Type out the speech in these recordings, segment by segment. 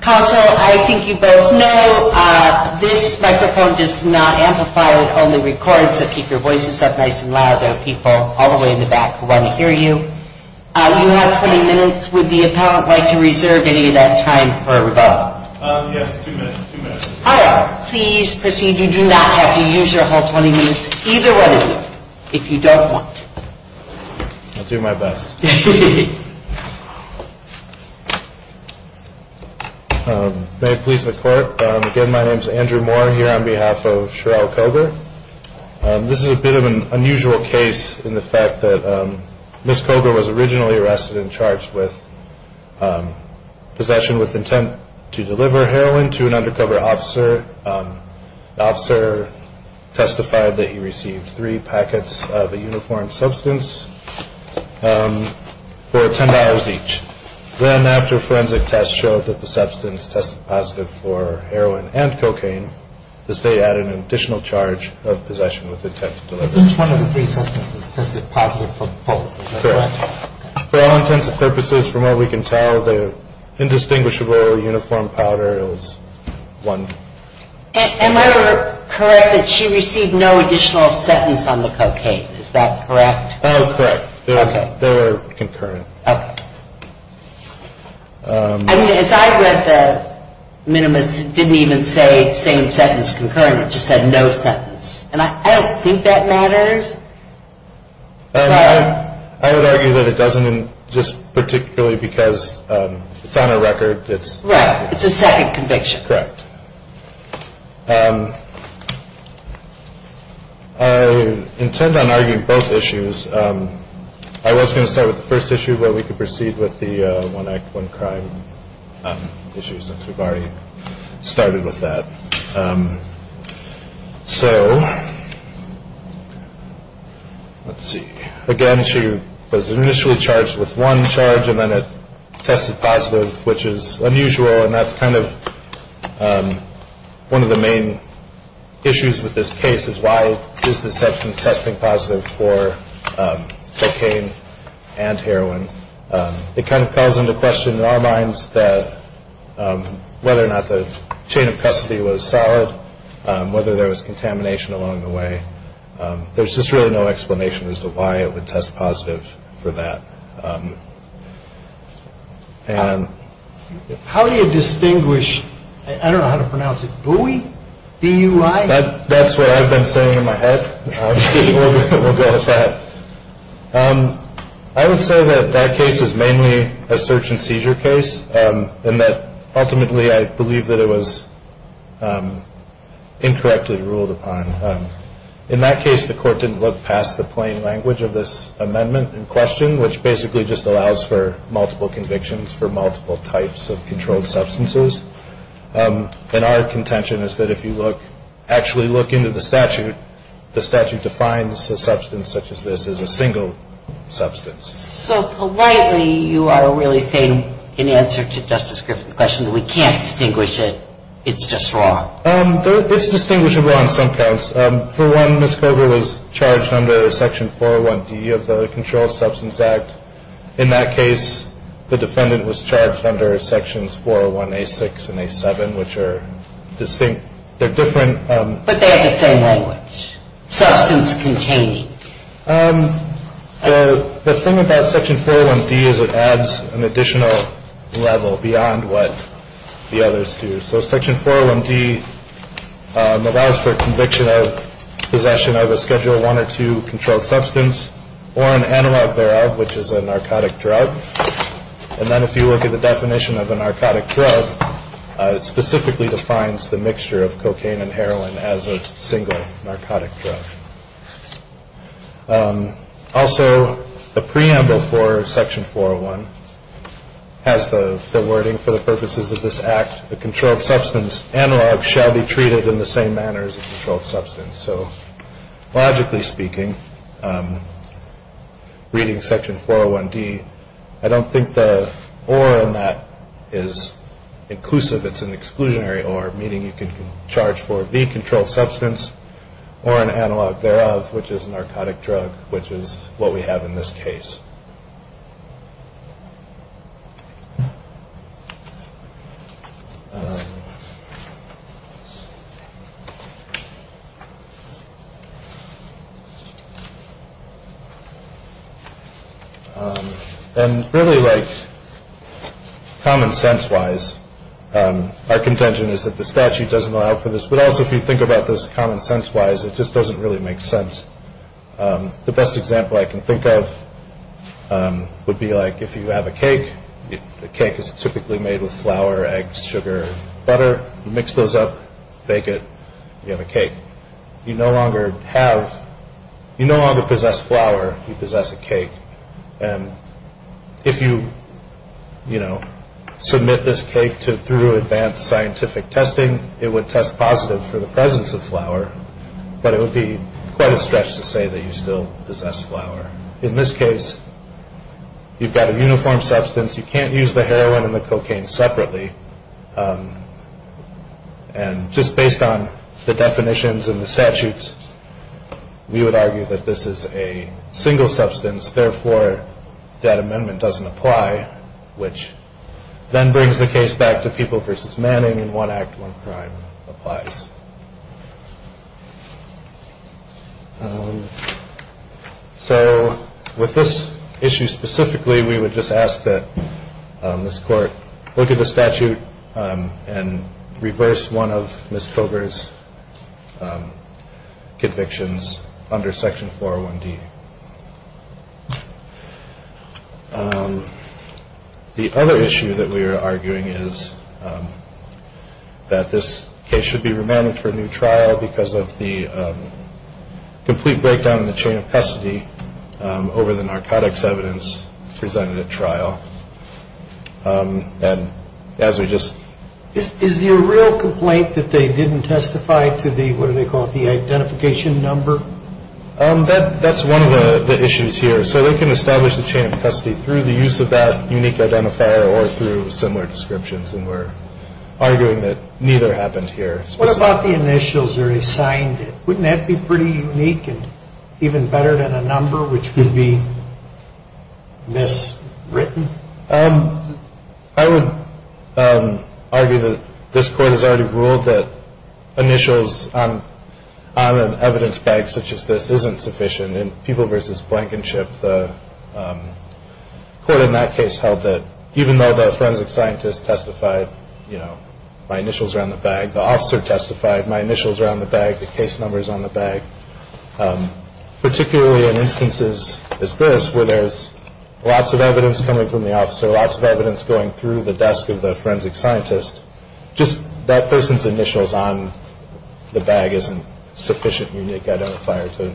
Counsel, I think you both know this microphone does not amplify, it only records a few seconds. Please proceed, you do not have to use your whole 20 minutes, either one of you, if you don't want to. I'll do my best. May it please the court, again my name is Andrew Moore here on behalf of Cheryl Coger. This is a bit of an unusual case in the fact that Ms. Coger was originally arrested and charged with possession with intent to deliver heroin to an undercover officer. The officer testified that he received three packets of a uniform substance. For $10 each. Then after forensic tests showed that the substance tested positive for heroin and cocaine, the state added an additional charge of possession with intent to deliver. For all intents and purposes, from what we can tell, the indistinguishable uniform powder was one. And am I correct that she received no additional sentence on the cocaine, is that correct? Oh, correct. They were concurrent. As I read the minimus, it didn't even say same sentence concurrent, it just said no sentence. And I don't think that matters. I would argue that it doesn't, just particularly because it's on her record. Right, it's a second conviction. Correct. I intend on arguing both issues. I was going to start with the first issue, but we can proceed with the one act, one crime issue since we've already started with that. So, let's see. Again, she was initially charged with one charge and then it tested positive, which is unusual. And that's kind of one of the main issues with this case is why is the substance testing positive for cocaine and heroin? It kind of calls into question in our minds that whether or not the chain of custody was solid, whether there was contamination along the way. There's just really no explanation as to why it would test positive for that. How do you distinguish? I don't know how to pronounce it. That's what I've been saying in my head. I would say that that case is mainly a search and seizure case. Ultimately, I believe that it was incorrectly ruled upon. In that case, the court didn't look past the plain language of this amendment in question, which basically just allows for multiple convictions for multiple types of controlled substances. And our contention is that if you look, actually look into the statute, the statute defines a substance such as this as a single substance. So politely, you are really saying in answer to Justice Griffin's question that we can't distinguish it. It's just wrong. It's distinguishable on some counts. For one, Ms. Cogar was charged under Section 401D of the Controlled Substance Act. In that case, the defendant was charged under Sections 401A6 and A7, which are distinct. They're different. But they have the same language, substance containing. The thing about Section 401D is it adds an additional level beyond what the others do. So Section 401D allows for conviction of possession of a Schedule I or II controlled substance or an analog thereof, which is a narcotic drug. And then if you look at the definition of a narcotic drug, it specifically defines the mixture of cocaine and heroin as a single narcotic drug. Also, the preamble for Section 401 has the wording, for the purposes of this act, the controlled substance analog shall be treated in the same manner as a controlled substance. So logically speaking, reading Section 401D, I don't think the or in that is inclusive. It's an exclusionary or, meaning you can charge for the controlled substance or an analog thereof, which is a narcotic drug, which is what we have in this case. And really like common sense wise, our contention is that the statute doesn't allow for this. But also, if you think about this common sense wise, it just doesn't really make sense. The best example I can think of would be like if you have a cake, a cake is typically made with flour, eggs, sugar, butter. You mix those up, bake it, you have a cake. You no longer have, you no longer possess flour, you possess a cake. And if you, you know, submit this cake through advanced scientific testing, it would test positive for the presence of flour, but it would be quite a stretch to say that you still possess flour. In this case, you've got a uniform substance. You can't use the heroin and the cocaine separately. And just based on the definitions and the statutes, we would argue that this is a single substance. Therefore, that amendment doesn't apply, which then brings the case back to people versus manning. In one act, one crime applies. So with this issue specifically, we would just ask that this court look at the statute and reverse one of Mr. Silver's convictions under Section 401D. The other issue that we are arguing is that this case should be remanded for a new trial because of the complete breakdown in the chain of custody over the narcotics evidence presented at trial. And as we just. Is there a real complaint that they didn't testify to the what do they call the identification number? That that's one of the issues here. So they can establish the chain of custody through the use of that unique identifier or through similar descriptions. And we're arguing that neither happened here. What about the initials are assigned? Wouldn't that be pretty unique and even better than a number which could be this written? I would argue that this court has already ruled that initials on an evidence bag such as this isn't sufficient. And people versus Blankenship, the court in that case held that even though the forensic scientist testified, you know, my initials are on the bag. The officer testified. My initials are on the bag. The case numbers on the bag, particularly in instances as this where there's lots of evidence coming from the officer, lots of evidence going through the desk of the forensic scientist. Just that person's initials on the bag isn't sufficient. You need to get a fire to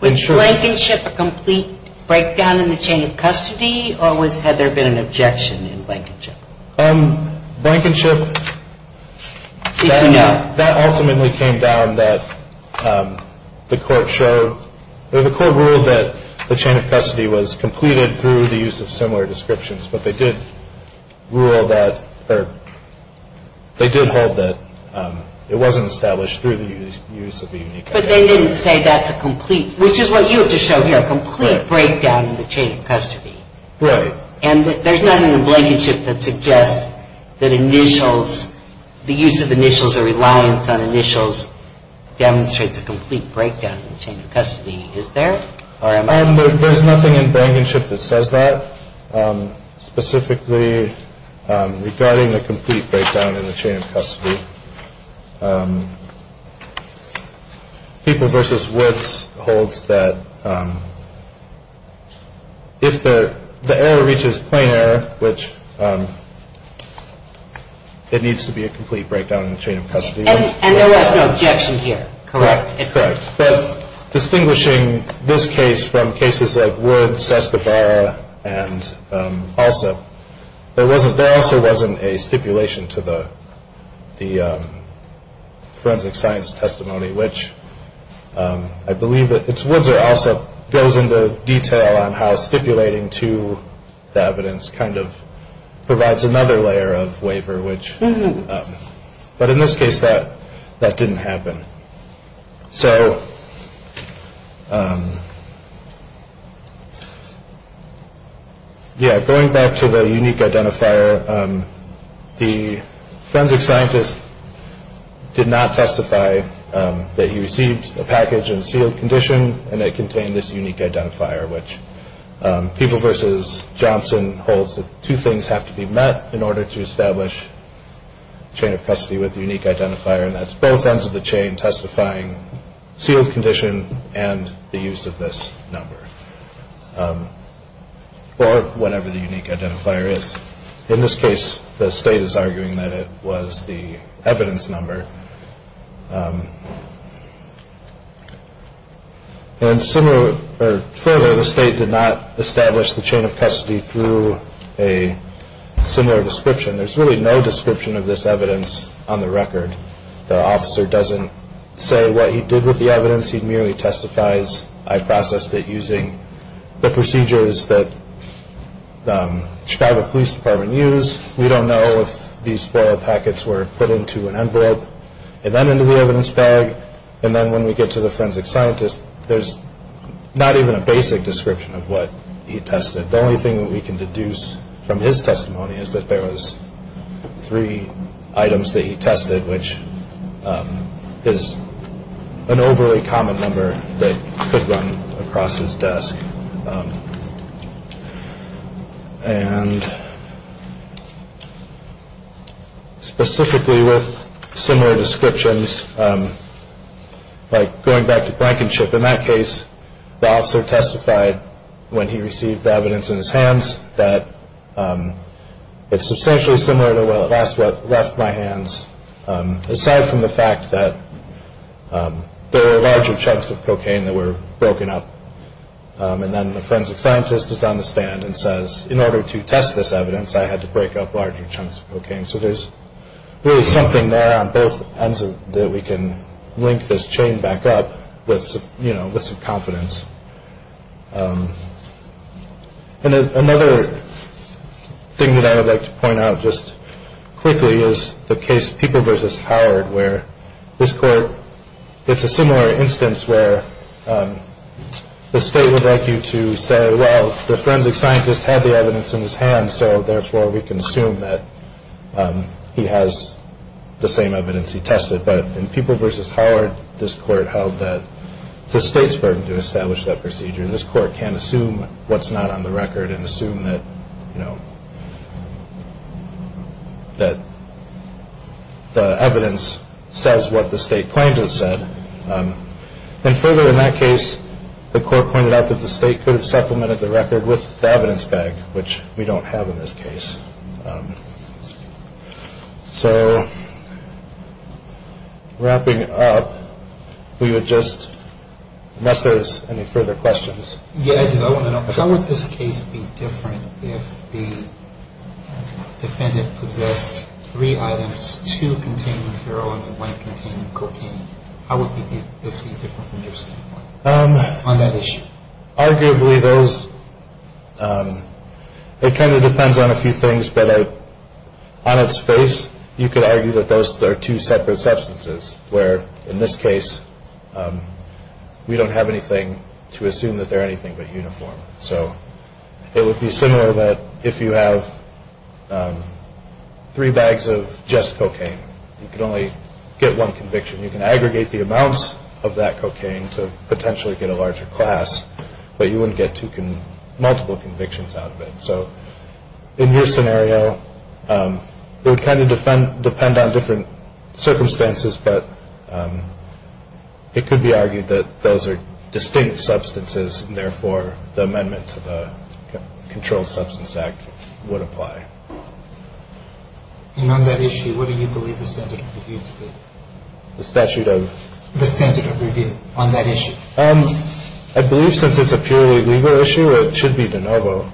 ensure a complete breakdown in the chain of custody. Why always had there been an objection in Blankenship? Blankenship, that ultimately came down that the court showed, or the court ruled that the chain of custody was completed through the use of similar descriptions. But they did rule that, or they did hold that it wasn't established through the use of the unique. But they didn't say that's a complete, which is what you have to show here. A complete breakdown in the chain of custody. Right. And there's nothing in Blankenship that suggests that initials, the use of initials or reliance on initials demonstrates a complete breakdown in the chain of custody. Is there? There's nothing in Blankenship that says that. Specifically regarding the complete breakdown in the chain of custody, People v. Woods holds that if the error reaches plain error, which it needs to be a complete breakdown in the chain of custody. And there was no objection here, correct? Correct. But distinguishing this case from cases of Woods, Escobar, and also there wasn't, there also wasn't a stipulation to the forensic science testimony, which I believe it's Woods or also goes into detail on how stipulating to the evidence kind of provides another layer of waiver, which, but in this case that that didn't happen. So, yeah, going back to the unique identifier, the forensic scientist did not testify that he received a package in a sealed condition and it contained this unique identifier, which People v. Johnson holds that two things have to be met in order to establish chain of custody with unique identifier. And that's both ends of the chain testifying sealed condition and the use of this number or whenever the unique identifier is. In this case, the state is arguing that it was the evidence number. And similar or further, the state did not establish the chain of custody through a similar description. There's really no description of this evidence on the record. The officer doesn't say what he did with the evidence. He merely testifies. I processed it using the procedures that Chicago Police Department use. We don't know if these packets were put into an envelope and then into the evidence bag. And then when we get to the forensic scientist, there's not even a basic description of what he tested. The only thing that we can deduce from his testimony is that there was three items that he tested, which is an overly common number that could run across his desk. And specifically with similar descriptions, like going back to Blankenship in that case, the officer testified when he received the evidence in his hands that it's substantially similar to what left my hands, aside from the fact that there are larger chunks of cocaine that were broken up. And then the forensic scientist is on the stand and says, in order to test this evidence, I had to break up larger chunks of cocaine. So there's really something there on both ends that we can link this chain back up with, you know, with some confidence. Another thing that I would like to point out just quickly is the case people versus Howard, where this court, it's a similar instance where the state would like you to say, well, the forensic scientist had the evidence in his hand. So therefore, we can assume that he has the same evidence he tested. But in people versus Howard, this court held that the state's burden to establish that procedure. This court can assume what's not on the record and assume that, you know, that the evidence says what the state claimed it said. And further, in that case, the court pointed out that the state could have supplemented the record with the evidence bag, which we don't have in this case. So wrapping up, we would just, unless there's any further questions. Yeah, I do. I want to know, how would this case be different if the defendant possessed three items, two containing heroin and one containing cocaine? How would this be different from your standpoint on that issue? Arguably, those, it kind of depends on a few things. But on its face, you could argue that those are two separate substances where, in this case, we don't have anything to assume that they're anything but uniform. So it would be similar that if you have three bags of just cocaine, you can only get one conviction. You can aggregate the amounts of that cocaine to potentially get a larger class, but you wouldn't get multiple convictions out of it. So in your scenario, it would kind of depend on different circumstances, but it could be argued that those are distinct substances, and therefore the amendment to the Controlled Substance Act would apply. And on that issue, what do you believe the statute of review to be? The statute of? The statute of review on that issue. I believe since it's a purely legal issue, it should be de novo.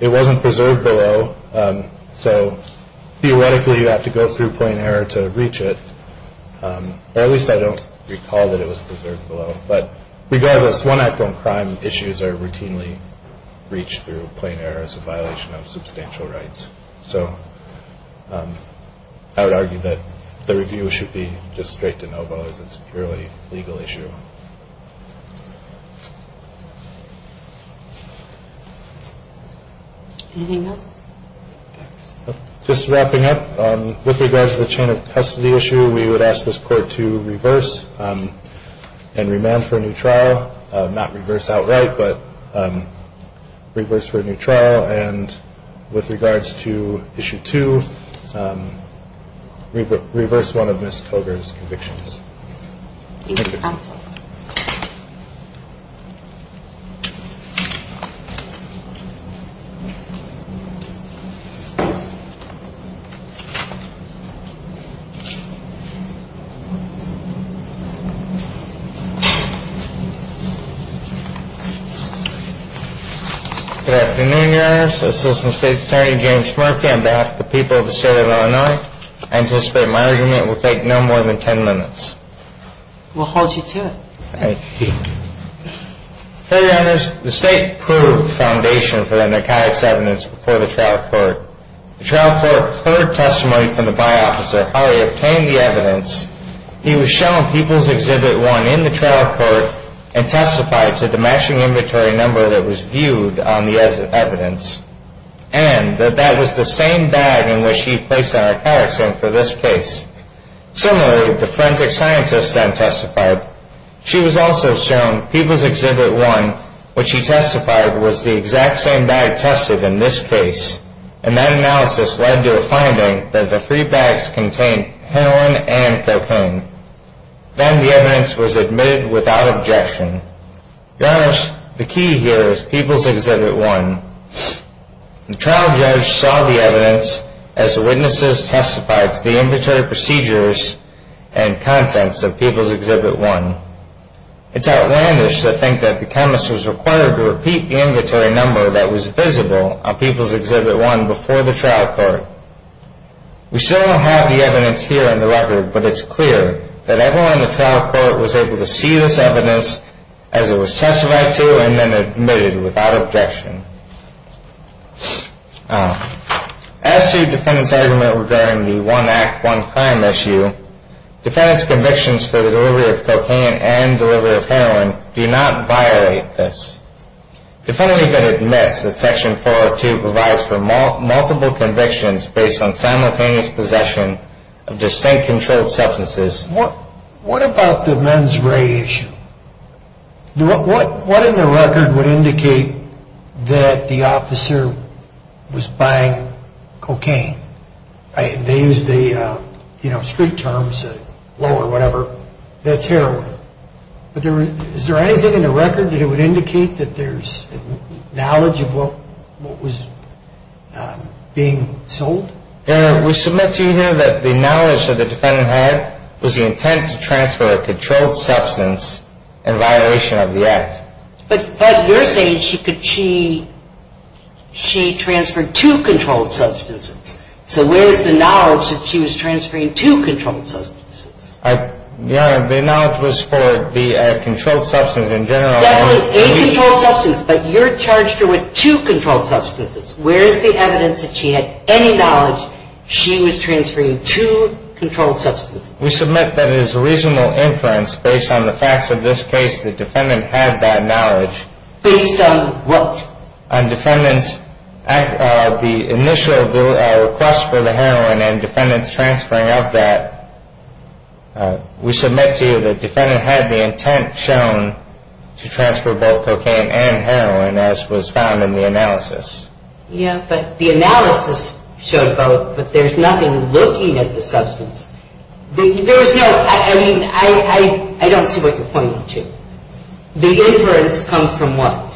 It wasn't preserved below, so theoretically, you have to go through plain error to reach it. Or at least I don't recall that it was preserved below. But regardless, one act on crime issues are routinely reached through plain error as a violation of substantial rights. So I would argue that the review should be just straight de novo as it's a purely legal issue. Just wrapping up, with regards to the chain of custody issue, we would ask this court to reverse and remand for a new trial. Not reverse outright, but reverse for a new trial. And with regards to issue two, reverse one of Ms. Cogar's convictions. Thank you, counsel. Good afternoon, Your Honors. Assistant State's Attorney, James Murphy, on behalf of the people of the state of Illinois, I anticipate my argument will take no more than ten minutes. We'll hold you to it. Thank you. Fairly, Your Honors, the state proved the foundation for the narcotics evidence before the trial court. The trial court heard testimony from the by-officer, how he obtained the evidence. He was shown People's Exhibit 1 in the trial court and testified to the matching inventory number that was viewed on the evidence and that that was the same bag in which he placed the narcotics in for this case. Similarly, the forensic scientist then testified. She was also shown People's Exhibit 1, which she testified was the exact same bag tested in this case. And that analysis led to a finding that the three bags contained heroin and cocaine. Then the evidence was admitted without objection. Your Honors, the key here is People's Exhibit 1. The trial judge saw the evidence as the witnesses testified to the inventory procedures and contents of People's Exhibit 1. It's outlandish to think that the chemist was required to repeat the inventory number that was visible on People's Exhibit 1 before the trial court. We still don't have the evidence here in the record, but it's clear that everyone in the trial court was able to see this evidence as it was testified to and then admitted without objection. As to defendant's argument regarding the One Act, One Crime issue, defendant's convictions for the delivery of cocaine and delivery of heroin do not violate this. Defendant even admits that Section 402 provides for multiple convictions based on simultaneous possession of distinct controlled substances. What about the men's ray issue? What in the record would indicate that the officer was buying cocaine? They used the street terms, low or whatever, that's heroin. Is there anything in the record that would indicate that there's knowledge of what was being sold? We submit to you here that the knowledge that the defendant had was the intent to transfer a controlled substance in violation of the Act. But you're saying she transferred two controlled substances. So where is the knowledge that she was transferring two controlled substances? Your Honor, the knowledge was for the controlled substance in general. Definitely a controlled substance, but you're charged her with two controlled substances. Where is the evidence that she had any knowledge she was transferring two controlled substances? We submit that it is a reasonable inference based on the facts of this case that defendant had that knowledge. Based on what? On defendant's initial request for the heroin and defendant's transferring of that. We submit to you that defendant had the intent shown to transfer both cocaine and heroin as was found in the analysis. Yeah, but the analysis showed both, but there's nothing looking at the substance. There's no, I mean, I don't see what you're pointing to. The inference comes from what?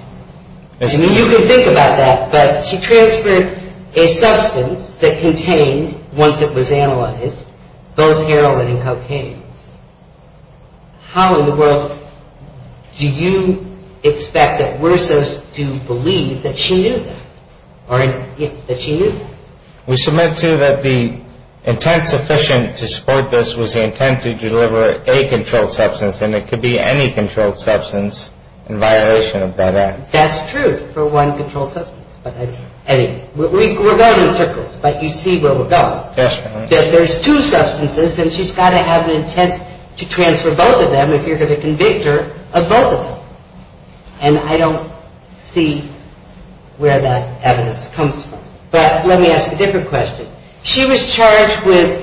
You can think about that, but she transferred a substance that contained, once it was analyzed, both heroin and cocaine. How in the world do you expect that Wersos to believe that she knew that, or that she knew that? We submit to you that the intent sufficient to support this was the intent to deliver a controlled substance, and it could be any controlled substance in violation of that Act. That's true for one controlled substance. We're going in circles, but you see where we're going. If there's two substances, then she's got to have an intent to transfer both of them if you're going to convict her of both of them. And I don't see where that evidence comes from. But let me ask a different question. She was charged with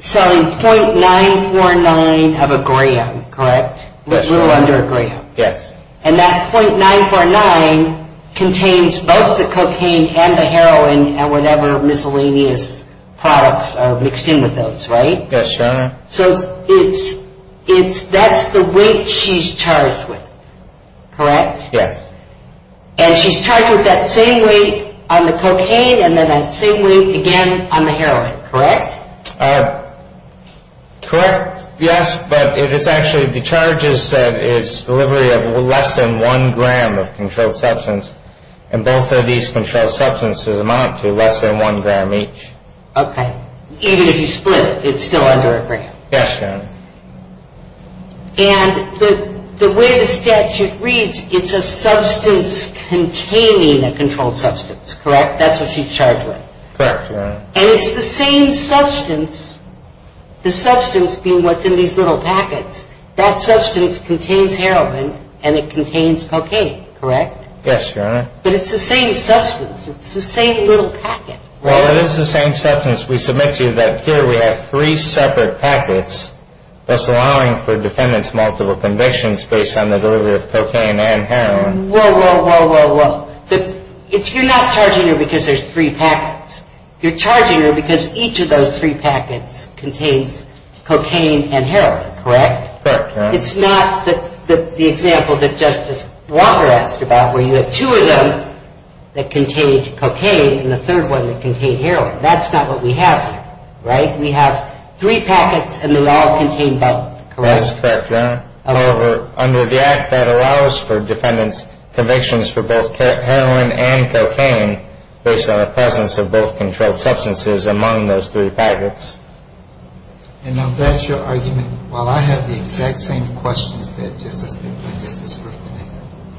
selling .949 of a gram, correct? Yes. A little under a gram. Yes. And that .949 contains both the cocaine and the heroin and whatever miscellaneous products are mixed in with those, right? Yes, Your Honor. So that's the weight she's charged with, correct? Yes. And she's charged with that same weight on the cocaine and then that same weight again on the heroin, correct? Correct, yes. But it is actually the charge is that it's delivery of less than one gram of controlled substance, and both of these controlled substances amount to less than one gram each. Okay. Even if you split, it's still under a gram. Yes, Your Honor. And the way the statute reads, it's a substance containing a controlled substance, correct? That's what she's charged with. Correct, Your Honor. And it's the same substance, the substance being what's in these little packets, that substance contains heroin and it contains cocaine, correct? Yes, Your Honor. But it's the same substance. It's the same little packet, right? Well, it is the same substance. We submit to you that here we have three separate packets, thus allowing for defendants multiple convictions based on the delivery of cocaine and heroin. Whoa, whoa, whoa, whoa, whoa. You're not charging her because there's three packets. You're charging her because each of those three packets contains cocaine and heroin, correct? Correct, Your Honor. It's not the example that Justice Walker asked about where you have two of them that contained cocaine and the third one that contained heroin. That's not what we have here, right? We have three packets and they all contain both, correct? That's correct, Your Honor. However, under the Act, that allows for defendants convictions for both heroin and cocaine based on the presence of both controlled substances among those three packets. And I'm glad it's your argument. While I have the exact same questions that Justice McQuinn just described today,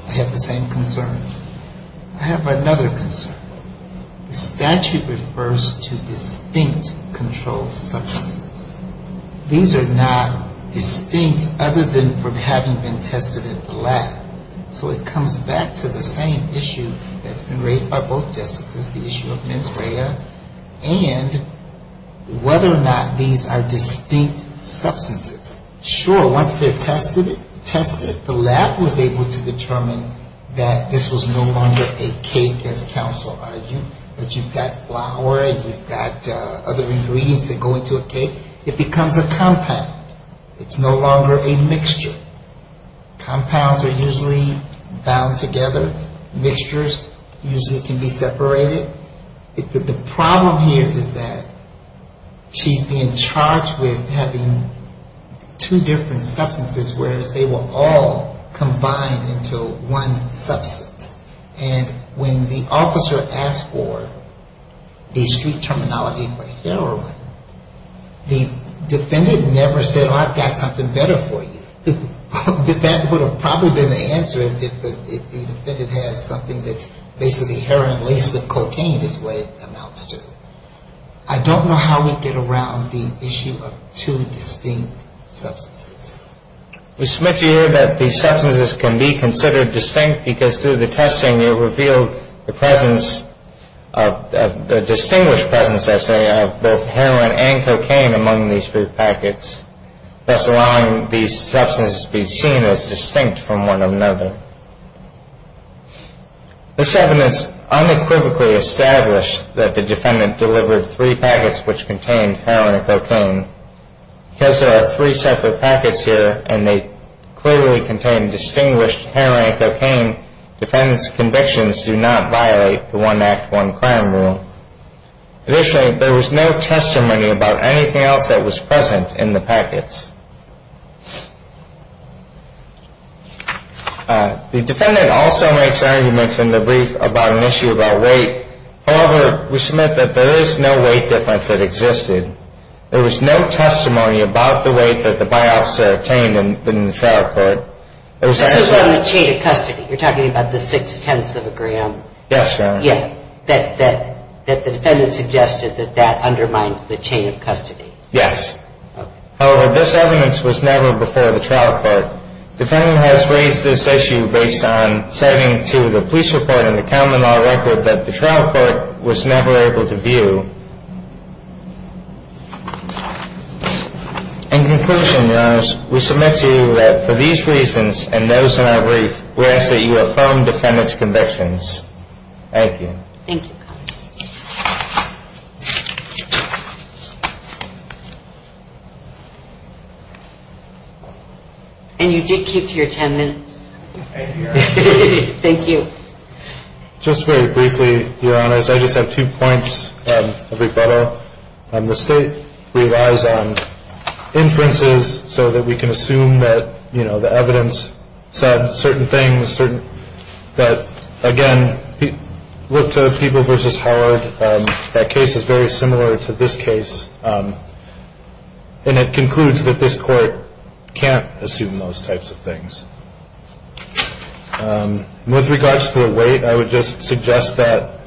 I have the same concerns. I have another concern. The statute refers to distinct controlled substances. These are not distinct other than from having been tested at the lab. So it comes back to the same issue that's been raised by both justices, the issue of mens rea, and whether or not these are distinct substances. Sure, once they're tested, the lab was able to determine that this was no longer a cake, as counsel argued, that you've got flour and you've got other ingredients that go into a cake. It becomes a compound. It's no longer a mixture. Compounds are usually bound together. Mixtures usually can be separated. The problem here is that she's being charged with having two different substances, whereas they were all combined into one substance. And when the officer asked for the street terminology for heroin, the defendant never said, oh, I've got something better for you. That would have probably been the answer if the defendant has something that's basically heroin laced with cocaine is what it amounts to. I don't know how we get around the issue of two distinct substances. We submit to you that these substances can be considered distinct because through the testing, you reveal the presence, the distinguished presence, I say, of both heroin and cocaine among these three packets, thus allowing these substances to be seen as distinct from one another. This evidence unequivocally established that the defendant delivered three packets which contained heroin and cocaine. Because there are three separate packets here and they clearly contain distinguished heroin and cocaine, defendant's convictions do not violate the one act, one crime rule. Additionally, there was no testimony about anything else that was present in the packets. The defendant also makes arguments in the brief about an issue about weight. However, we submit that there is no weight difference that existed. There was no testimony about the weight that the by-officer obtained in the trial court. This is on the chain of custody. You're talking about the six-tenths of a gram. Yes, Your Honor. Yeah. That the defendant suggested that that undermined the chain of custody. Yes. However, this evidence was never before the trial court. Defendant has raised this issue based on citing to the police report and the common law record that the trial court was never able to view. In conclusion, Your Honor, we submit to you that for these reasons and those in our brief, we ask that you affirm defendant's convictions. Thank you. Thank you. And you did keep your ten minutes. Thank you, Your Honor. Thank you. Just very briefly, Your Honors, I just have two points of rebuttal. The state relies on inferences so that we can assume that, you know, the evidence said certain things that, again, look to People v. Howard. That case is very similar to this case. And it concludes that this court can't assume those types of things. With regards to the weight, I would just suggest that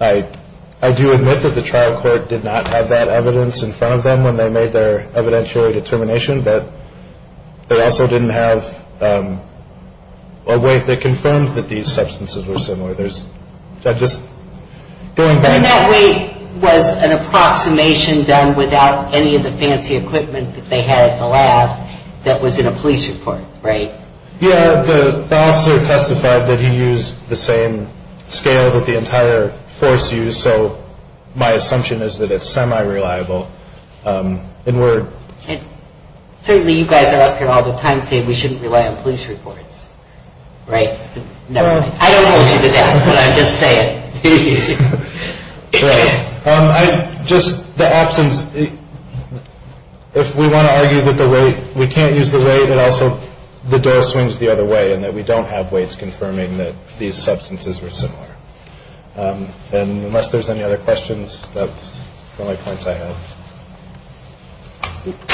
I do admit that the trial court did not have that evidence in front of them when they made their evidentiary determination. But they also didn't have a weight that confirmed that these substances were similar. There's just going back. I mean, that weight was an approximation done without any of the fancy equipment that they had at the lab that was in a police report, right? Yeah. The officer testified that he used the same scale that the entire force used. So my assumption is that it's semi-reliable. And certainly you guys are up here all the time saying we shouldn't rely on police reports, right? I don't hold you to that, but I'm just saying. Right. Just the absence, if we want to argue that the weight, we can't use the weight, but also the door swings the other way and that we don't have weights confirming that these substances were similar. And unless there's any other questions, that's the only points I have.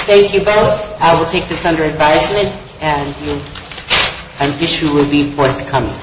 Thank you both. I will take this under advisement. And I wish you would be forthcoming.